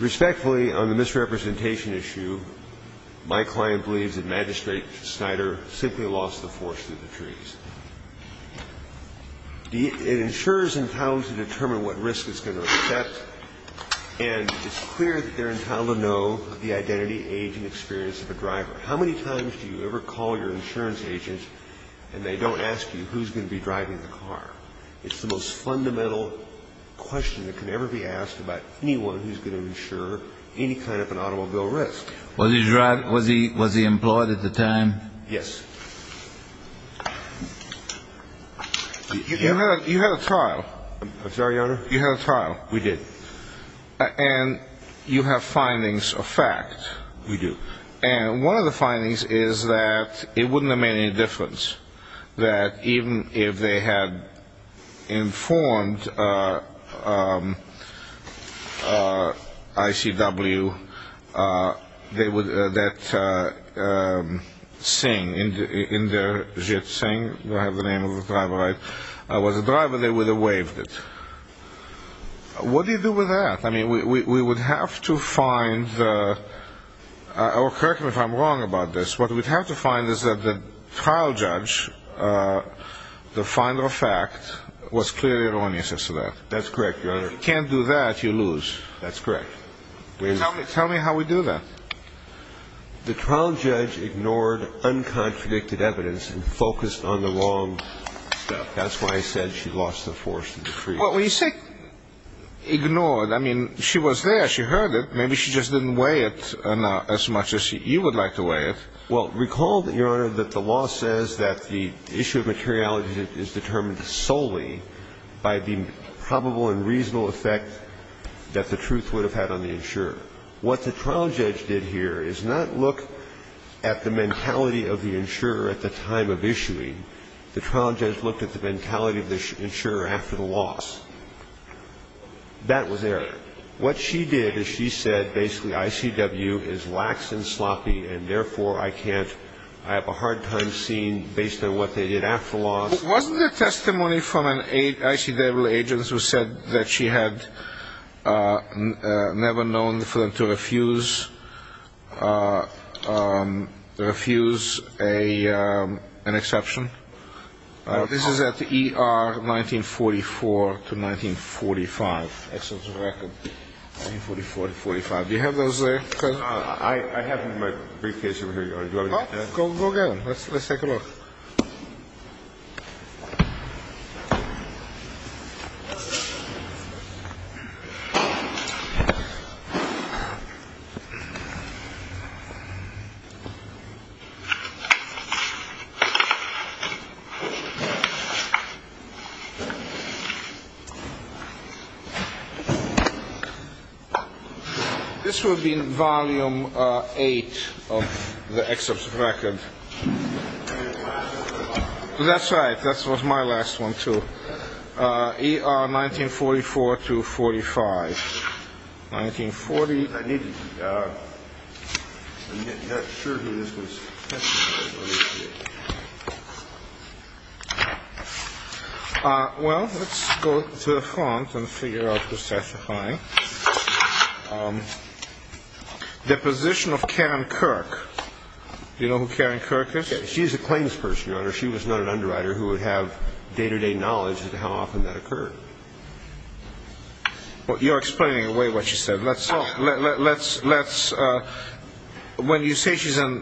Respectfully, on the misrepresentation issue, my client believes that Magistrate Snyder simply lost the force through the trees. It ensures and tells to determine what risk it's going to accept, and it's clear that they're entitled to know the identity, age, and experience of a driver. How many times do you ever call your insurance agent and they don't ask you who's going to be driving the car? It's the most fundamental question that can ever be asked about anyone who's going to insure any kind of an automobile risk. Was he employed at the time? Yes. You had a trial. I'm sorry, Your Honor? You had a trial. We did. And you have findings of fact. We do. And one of the findings is that it wouldn't have made any difference that even if they had informed ICW that Singh, Inderjit Singh, I have the name of the driver, was a driver, they would have waived it. What do you do with that? I mean, we would have to find the – or correct me if I'm wrong about this – what we'd have to find is that the trial judge, the finder of fact, was clearly erroneous as to that. That's correct, Your Honor. If you can't do that, you lose. That's correct. Tell me how we do that. The trial judge ignored uncontradicted evidence and focused on the wrong stuff. That's why I said she lost the force through the trees. Well, when you say ignored, I mean, she was there. She heard it. Maybe she just didn't weigh it as much as you would like to weigh it. Well, recall, Your Honor, that the law says that the issue of materiality is determined solely by the probable and reasonable effect that the truth would have had on the insurer. What the trial judge did here is not look at the mentality of the insurer at the time of issuing. The trial judge looked at the mentality of the insurer after the loss. That was Eric. What she did is she said basically ICW is lax and sloppy, and therefore I can't – I have a hard time seeing based on what they did after the loss. Wasn't there testimony from an ICW agent who said that she had never known for them to refuse an exception? This is at ER 1944 to 1945. Excellent record. 1944 to 45. Do you have those there? I have them in my briefcase over here, Your Honor. Go get them. Let's take a look. This would be in volume eight of the excerpt of the record. That's right. That was my last one, too. ER 1944 to 45. 1940. Well, let's go to the front and figure out what's testifying. Deposition of Karen Kirk. Do you know who Karen Kirk is? She's a claims person, Your Honor. She was not an underwriter who would have day-to-day knowledge as to how often that occurred. Well, you're explaining away what she said. Let's – when you say she's a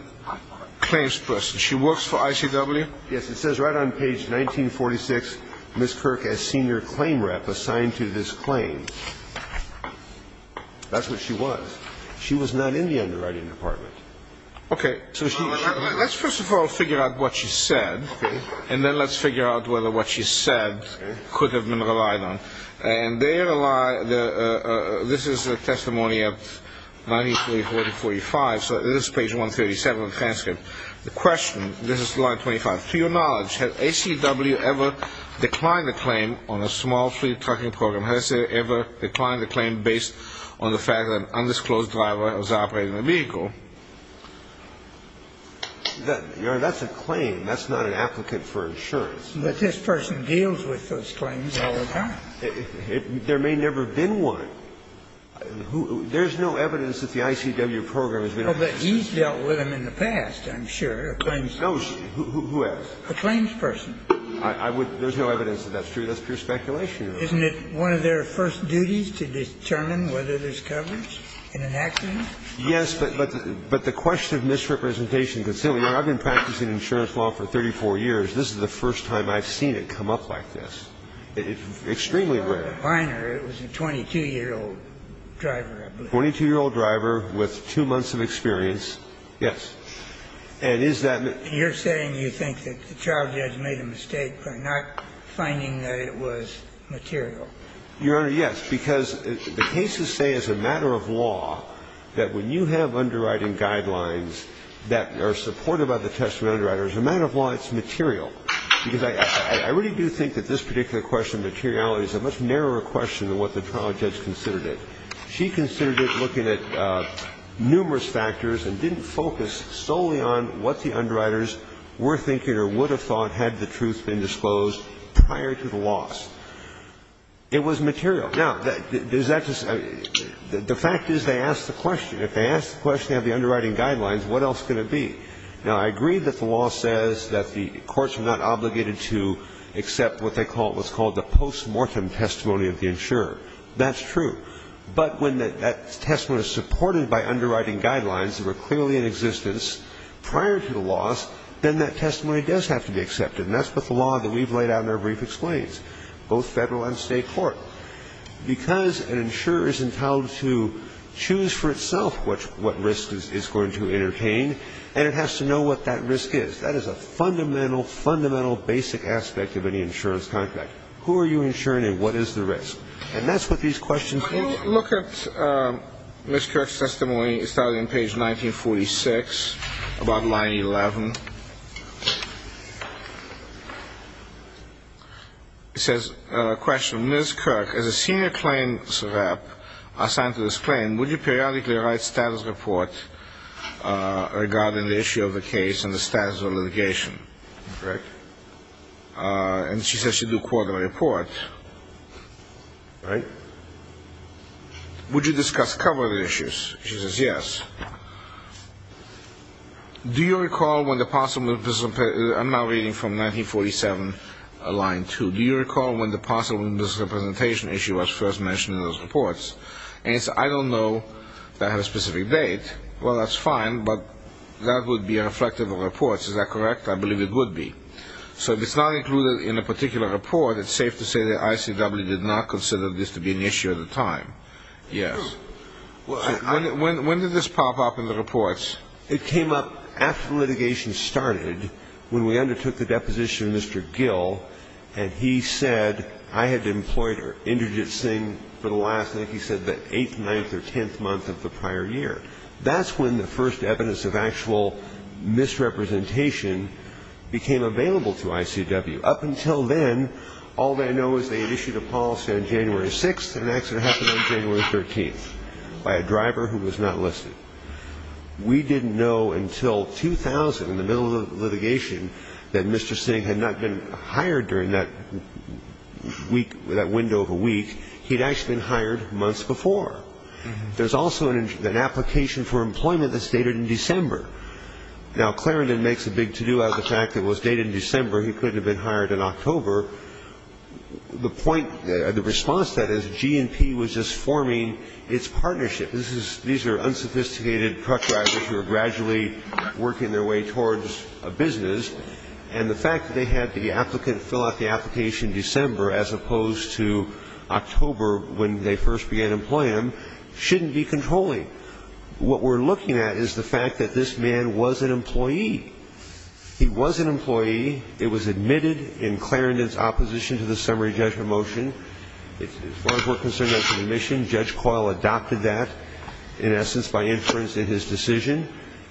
claims person, she works for ICW? Yes. It says right on page 1946, Ms. Kirk as senior claim rep assigned to this claim. That's what she was. She was not in the underwriting department. Okay. Let's first of all figure out what she said. Okay. And then let's figure out whether what she said could have been relied on. And this is the testimony of 1943 to 45. So this is page 137 of the transcript. The question – this is line 25. To your knowledge, has ICW ever declined a claim on a small fleet trucking program? Has it ever declined a claim based on the fact that an undisclosed driver was operating the vehicle? Your Honor, that's a claim. That's not an applicant for insurance. But this person deals with those claims all the time. There may never have been one. There's no evidence that the ICW program has been – But he's dealt with them in the past, I'm sure, a claims – No. Who else? A claims person. I would – there's no evidence that that's true. That's pure speculation. Isn't it one of their first duties to determine whether there's coverage in an accident? Yes, but the question of misrepresentation, Your Honor, I've been practicing insurance law for 34 years. This is the first time I've seen it come up like this. It's extremely rare. It was a minor. It was a 22-year-old driver, I believe. A 22-year-old driver with two months of experience, yes. And is that – You're saying you think that the child judge made a mistake by not finding that it was material. Your Honor, yes, because the cases say as a matter of law that when you have underwriting guidelines that are supported by the testimony of underwriters, as a matter of law, it's material. Because I really do think that this particular question of materiality is a much narrower question than what the child judge considered it. She considered it looking at numerous factors and didn't focus solely on what the underwriters were thinking or would have thought had the truth been disclosed prior to the loss. It was material. Now, does that – the fact is they asked the question. If they asked the question of the underwriting guidelines, what else could it be? Now, I agree that the law says that the courts are not obligated to accept what they call – what's called the postmortem testimony of the insurer. That's true. But when that testimony is supported by underwriting guidelines that were clearly in existence prior to the loss, then that testimony does have to be accepted. And that's what the law that we've laid out in our brief explains, both Federal and State court. So, because an insurer is entitled to choose for itself what risk is going to entertain, and it has to know what that risk is. That is a fundamental, fundamental basic aspect of any insurance contract. Who are you insuring and what is the risk? And that's what these questions are. Look at Ms. Kirk's testimony. It started on page 1946, about line 11. It says, question, Ms. Kirk, as a senior claims rep assigned to this claim, would you periodically write status reports regarding the issue of the case and the status of litigation? Correct? And she says she'd do a quarterly report. All right. Would you discuss cover issues? She says yes. Do you recall when the possible ______, I'm now reading from 1947, line 2. Do you recall when the possible misrepresentation issue was first mentioned in those reports? And it says, I don't know that I have a specific date. Well, that's fine, but that would be reflective of the reports. Is that correct? I believe it would be. So if it's not included in a particular report, it's safe to say that ICW did not consider this to be an issue at the time. Yes. When did this pop up in the reports? It came up after litigation started when we undertook the deposition of Mr. Gill, and he said I had employed Inderjit Singh for the last, like he said, the eighth, ninth, or tenth month of the prior year. That's when the first evidence of actual misrepresentation became available to ICW. Up until then, all they know is they had issued a policy on January 6th and an accident happened on January 13th by a driver who was not listed. We didn't know until 2000, in the middle of litigation, that Mr. Singh had not been hired during that window of a week. He'd actually been hired months before. There's also an application for employment that's dated in December. Now, Clarendon makes a big to-do out of the fact that it was dated in December. He couldn't have been hired in October. The point, the response to that is G&P was just forming its partnership. These are unsophisticated truck drivers who are gradually working their way towards a business, and the fact that they had the applicant fill out the application in December as opposed to October when they first began employing him shouldn't be controlling. What we're looking at is the fact that this man was an employee. He was an employee. It was admitted in Clarendon's opposition to the summary judgment motion. As far as we're concerned, that's an admission. Judge Coyle adopted that, in essence, by inference in his decision.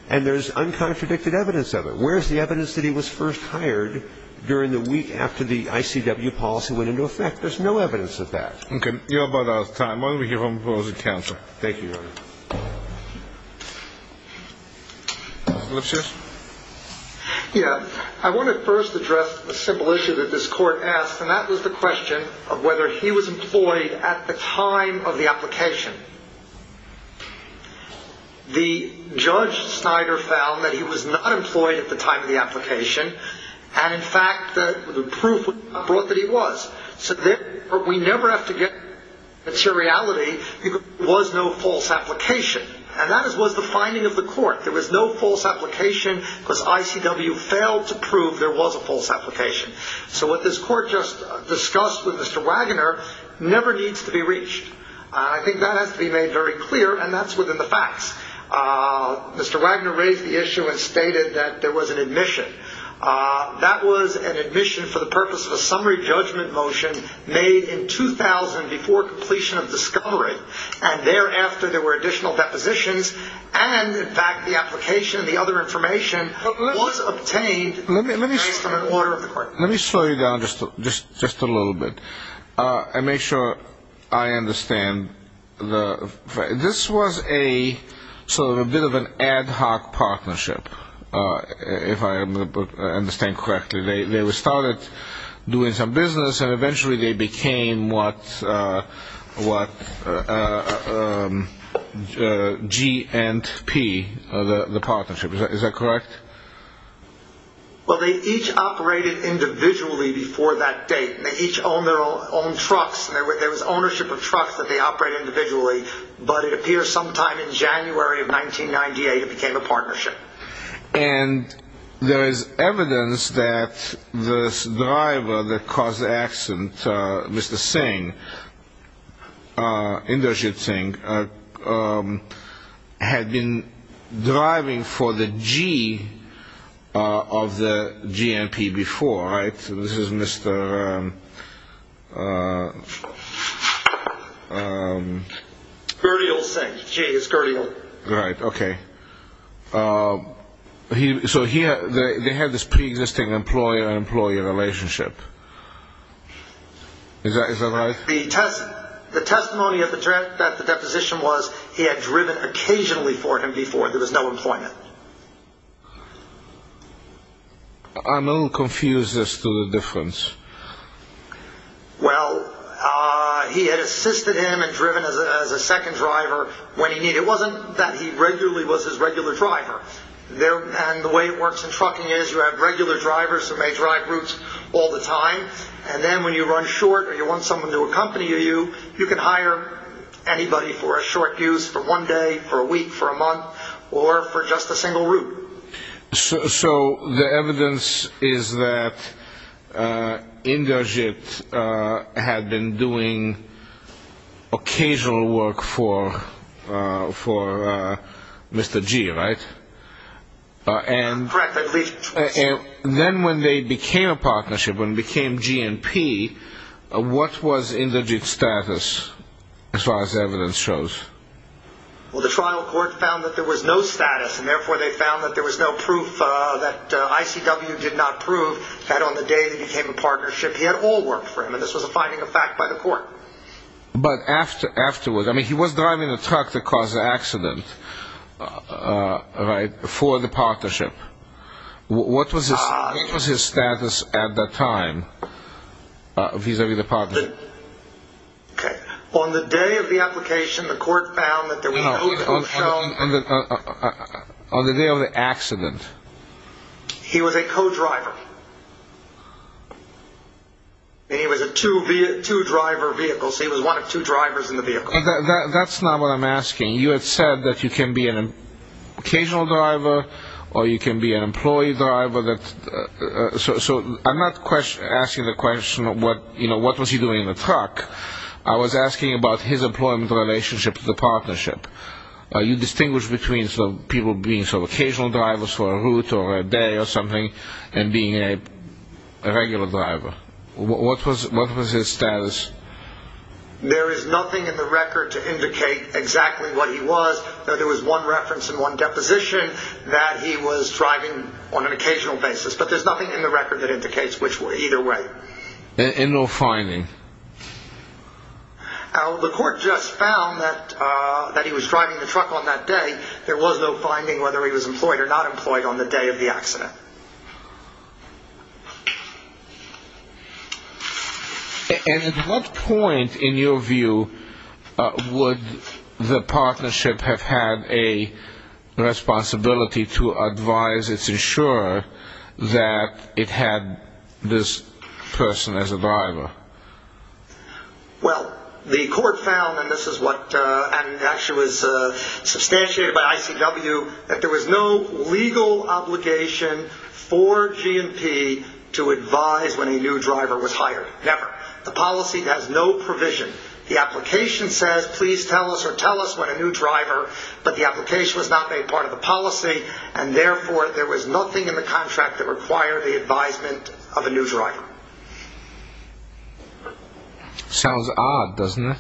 And there's uncontradicted evidence of it. Where's the evidence that he was first hired during the week after the ICW policy went into effect? There's no evidence of that. Okay. You're about out of time. Why don't we hear from Rosie Townsend? Thank you, Your Honor. Mr. Lipseth? Yeah. I want to first address a simple issue that this Court asked, and that was the question of whether he was employed at the time of the application. The judge, Snyder, found that he was not employed at the time of the application, and, in fact, the proof was not brought that he was. So we never have to get materiality because there was no false application. And that was the finding of the Court. There was no false application because ICW failed to prove there was a false application. So what this Court just discussed with Mr. Wagoner never needs to be reached. I think that has to be made very clear, and that's within the facts. Mr. Wagoner raised the issue and stated that there was an admission. That was an admission for the purpose of a summary judgment motion made in 2000 before completion of discovery, and thereafter there were additional depositions, and, in fact, the application and the other information was obtained based on an order of the Court. Let me slow you down just a little bit and make sure I understand. This was a sort of a bit of an ad hoc partnership, if I understand correctly. They started doing some business, and eventually they became what G&P, the partnership. Is that correct? Well, they each operated individually before that date, and they each owned their own trucks. There was ownership of trucks that they operated individually, but it appears sometime in January of 1998 it became a partnership. And there is evidence that this driver that caused the accident, Mr. Singh, Inderjit Singh, had been driving for the G of the G&P before, right? This is Mr. Gurdial Singh, G is Gurdial. Right, okay. So here they had this preexisting employer-employee relationship. Is that right? The testimony of the deposition was he had driven occasionally for him before. There was no employment. I'm a little confused as to the difference. Well, he had assisted him and driven as a second driver when he needed. It wasn't that he regularly was his regular driver, and the way it works in trucking is you have regular drivers who may drive routes all the time, and then when you run short or you want someone to accompany you, you can hire anybody for a short use, for one day, for a week, for a month, or for just a single route. So the evidence is that Inderjit had been doing occasional work for Mr. G, right? Correct. Then when they became a partnership, when they became G&P, what was Inderjit's status as far as evidence shows? Well, the trial court found that there was no status, and therefore they found that there was no proof that ICW did not prove that on the day they became a partnership, he had all worked for him, and this was a finding of fact by the court. But afterwards, I mean, he was driving a truck that caused the accident, right, for the partnership. What was his status at that time vis-a-vis the partnership? Okay. On the day of the application, the court found that there was no proof. On the day of the accident. He was a co-driver, and he was a two-driver vehicle, so he was one of two drivers in the vehicle. That's not what I'm asking. You had said that you can be an occasional driver or you can be an employee driver. So I'm not asking the question, you know, what was he doing in the truck. I was asking about his employment relationship to the partnership. You distinguish between people being occasional drivers for a route or a day or something and being a regular driver. What was his status? There is nothing in the record to indicate exactly what he was. There was one reference and one deposition that he was driving on an occasional basis, but there's nothing in the record that indicates either way. And no finding? The court just found that he was driving the truck on that day. There was no finding whether he was employed or not employed on the day of the accident. And at what point, in your view, would the partnership have had a responsibility to advise its insurer that it had this person as a driver? Well, the court found, and this is what actually was substantiated by ICW, that there was no legal obligation for GNP to advise when a new driver was hired. Never. The policy has no provision. The application says please tell us or tell us when a new driver, but the application was not made part of the policy, and therefore there was nothing in the contract that required the advisement of a new driver. Sounds odd, doesn't it?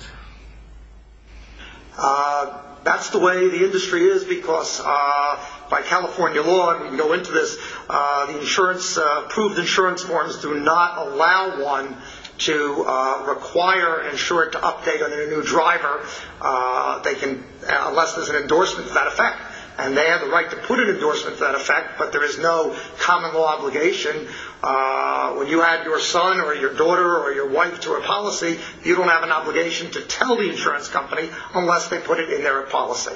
That's the way the industry is, because by California law, and we can go into this, the approved insurance forms do not allow one to require an insurer to update on a new driver, unless there's an endorsement to that effect. And they have the right to put an endorsement to that effect, but there is no common law obligation. When you add your son or your daughter or your wife to a policy, you don't have an obligation to tell the insurance company unless they put it in their policy.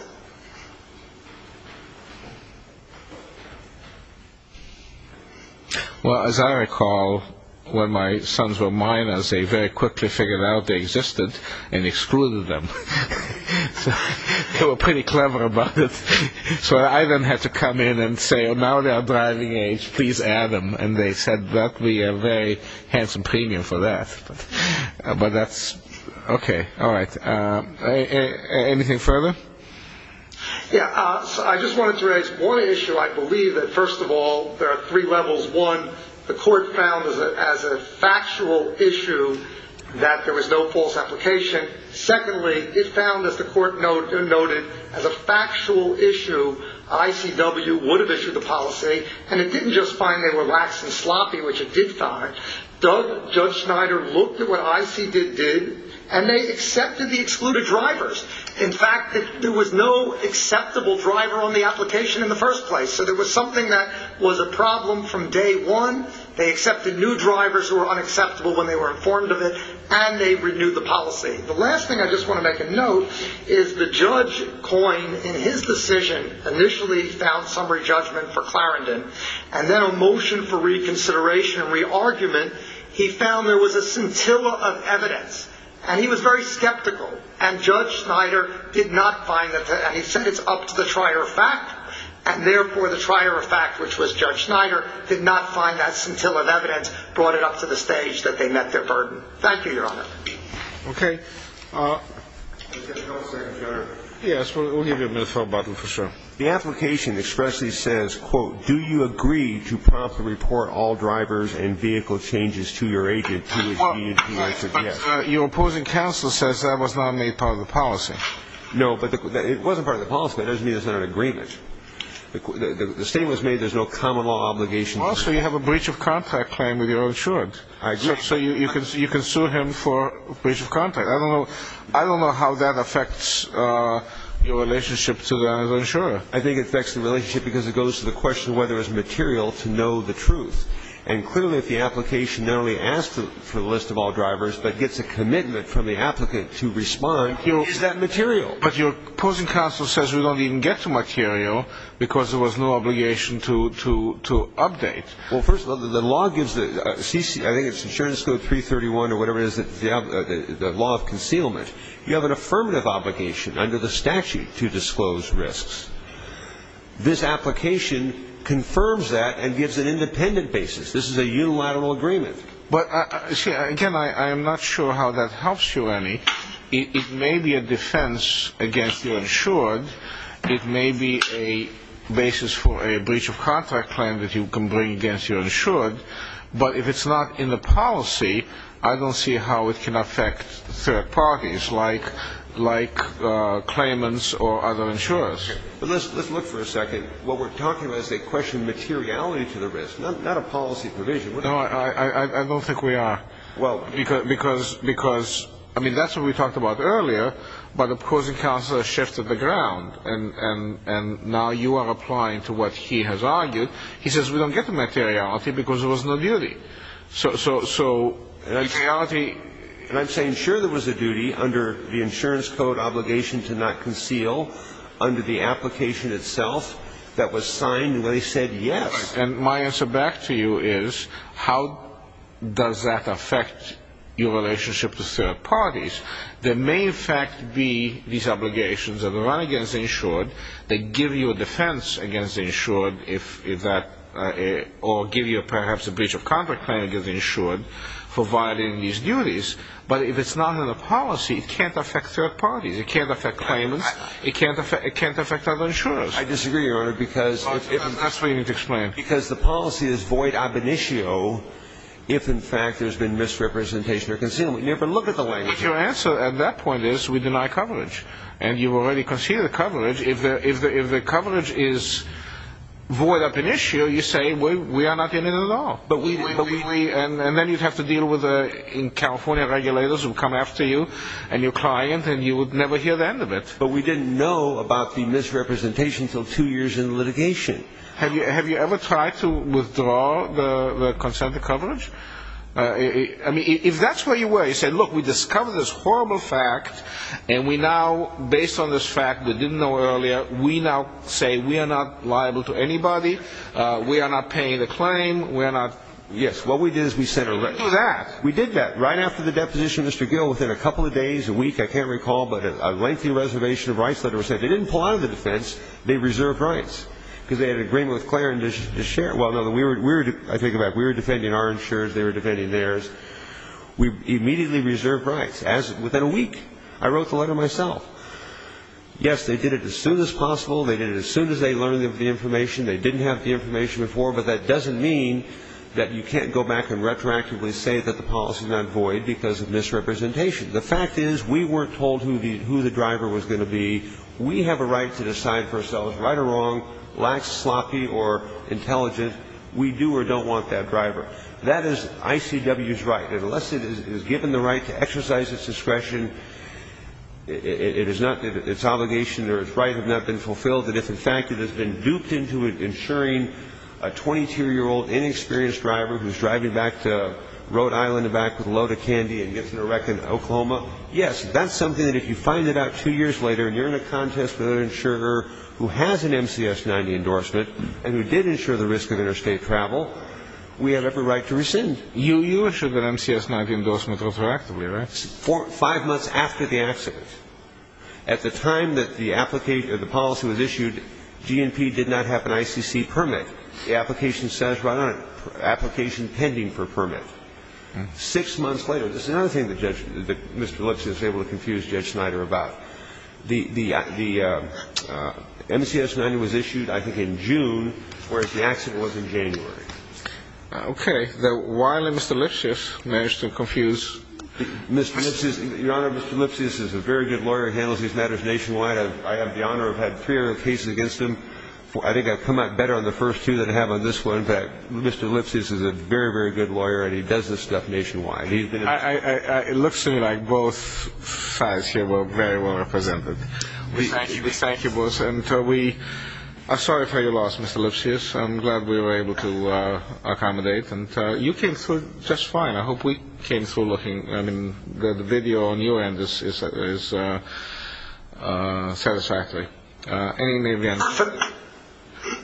Well, as I recall, when my sons were minors, they very quickly figured out they existed and excluded them. They were pretty clever about it. So I then had to come in and say, oh, now they are driving age, please add them, and they said that would be a very handsome premium for that. But that's okay. All right. Anything further? Yeah. I just wanted to raise one issue. I believe that, first of all, there are three levels. One, the court found as a factual issue that there was no false application. Secondly, it found, as the court noted, as a factual issue, ICW would have issued the policy, and it didn't just find they were lax and sloppy, which it did find. Judge Schneider looked at what ICD did, and they accepted the excluded drivers. In fact, there was no acceptable driver on the application in the first place. So there was something that was a problem from day one. They accepted new drivers who were unacceptable when they were informed of it, and they renewed the policy. The last thing I just want to make a note is the judge coined in his decision, initially he found summary judgment for Clarendon, and then a motion for reconsideration and re-argument, he found there was a scintilla of evidence, and he was very skeptical, and Judge Schneider did not find that, and he said it's up to the trier of fact, and therefore the trier of fact, which was Judge Schneider, did not find that scintilla of evidence, brought it up to the stage that they met their burden. Thank you, Your Honor. Okay. Yes, we'll give you a minute to talk about this for a second. The application expressly says, quote, do you agree to promptly report all drivers and vehicle changes to your agent to which he or she is to suggest? Your opposing counsel says that was not made part of the policy. No, but it wasn't part of the policy. That doesn't mean it's not an agreement. The statement was made there's no common law obligation. Also, you have a breach of contact claim with your insurant. I do. So you can sue him for breach of contact. I don't know how that affects your relationship to the insurant. I think it affects the relationship because it goes to the question whether it's material to know the truth, and clearly if the application not only asks for the list of all drivers but gets a commitment from the applicant to respond, it's that material. But your opposing counsel says we don't even get to material because there was no obligation to update. Well, first of all, the law gives the CC, I think it's insurance code 331 or whatever it is, the law of concealment. You have an affirmative obligation under the statute to disclose risks. This application confirms that and gives an independent basis. This is a unilateral agreement. But, again, I am not sure how that helps you, Annie. It may be a defense against your insured. It may be a basis for a breach of contact claim that you can bring against your insured. But if it's not in the policy, I don't see how it can affect third parties like claimants or other insurers. Let's look for a second. What we're talking about is they question materiality to the risk, not a policy provision. No, I don't think we are. Well, because, I mean, that's what we talked about earlier, but opposing counsel has shifted the ground. And now you are applying to what he has argued. He says we don't get the materiality because there was no duty. So materiality, and I'm saying sure there was a duty under the insurance code obligation to not conceal under the application itself that was signed, and they said yes. And my answer back to you is how does that affect your relationship to third parties? There may, in fact, be these obligations that are run against the insured that give you a defense against the insured, or give you perhaps a breach of contact claim against the insured for violating these duties. But if it's not in the policy, it can't affect third parties. It can't affect claimants. It can't affect other insurers. I disagree, Your Honor, because the policy is void ab initio if, in fact, there's been misrepresentation or concealment. You have to look at the language. Your answer at that point is we deny coverage. And you already conceded coverage. If the coverage is void ab initio, you say we are not in it at all. And then you'd have to deal with California regulators who come after you and your client, and you would never hear the end of it. But we didn't know about the misrepresentation until two years in litigation. Have you ever tried to withdraw the consent to coverage? I mean, if that's where you were, you said, look, we discovered this horrible fact, and we now, based on this fact we didn't know earlier, we now say we are not liable to anybody. We are not paying the claim. We are not. Yes, what we did is we said that. We did that. Right after the deposition, Mr. Gill, within a couple of days, a week, I can't recall, but a lengthy reservation of rights letter was sent. They didn't pull out of the defense. They reserved rights. Because they had an agreement with Clarin to share. Well, no, I think about it. We were defending our insurers. They were defending theirs. We immediately reserved rights. Within a week, I wrote the letter myself. Yes, they did it as soon as possible. They did it as soon as they learned the information. They didn't have the information before. But that doesn't mean that you can't go back and retroactively say that the policy is not void because of misrepresentation. The fact is we weren't told who the driver was going to be. We have a right to decide for ourselves right or wrong, lax, sloppy, or intelligent. We do or don't want that driver. That is ICW's right. Unless it is given the right to exercise its discretion, its obligation or its right have not been fulfilled. And if, in fact, it has been duped into insuring a 22-year-old inexperienced driver who is driving back to Rhode Island with a load of candy and gets into a wreck in Oklahoma, yes, that's something that if you find it out two years later and you're in a contest with an insurer who has an MCS-90 endorsement and who did insure the risk of interstate travel, we have every right to rescind. You issued an MCS-90 endorsement retroactively, right? Five months after the accident. At the time that the policy was issued, GNP did not have an ICC permit. The application stands right on it, application pending for permit. Six months later. This is another thing that Mr. Lipsius was able to confuse Judge Snyder about. The MCS-90 was issued, I think, in June, whereas the accident was in January. Okay. Why did Mr. Lipsius manage to confuse? Mr. Lipsius, Your Honor, Mr. Lipsius is a very good lawyer. He handles these matters nationwide. I have the honor of having 300 cases against him. I think I've come out better on the first two than I have on this one. In fact, Mr. Lipsius is a very, very good lawyer, and he does this stuff nationwide. It looks to me like both sides here were very well represented. We thank you both. I'm sorry for your loss, Mr. Lipsius. I'm glad we were able to accommodate. You came through just fine. I hope we came through looking. The video on your end is satisfactory.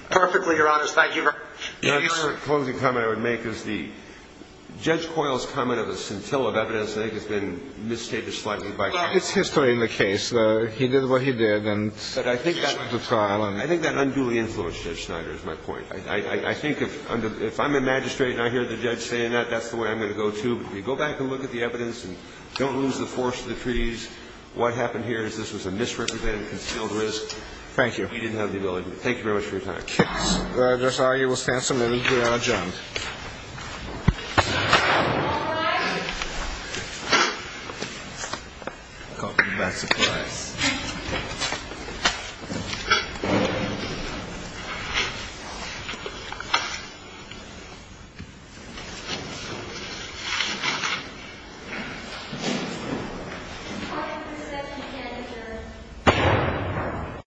Perfectly, Your Honor. Thank you very much. The only closing comment I would make is the Judge Coyle's comment of the scintilla of evidence, I think, has been misstated slightly. It's history in the case. He did what he did. I think that unduly influenced Judge Snyder is my point. I think if I'm a magistrate and I hear the judge saying that, that's the way I'm going to go, too. But if you go back and look at the evidence and don't lose the force of the treaties, what happened here is this was a misrepresented, concealed risk. Thank you. We didn't have the ability to do that. Thank you very much for your time. I'm sorry. We'll stand submitted. Your Honor, adjourned. I'll call for the back supplies. Thank you. I'll call for the back supplies.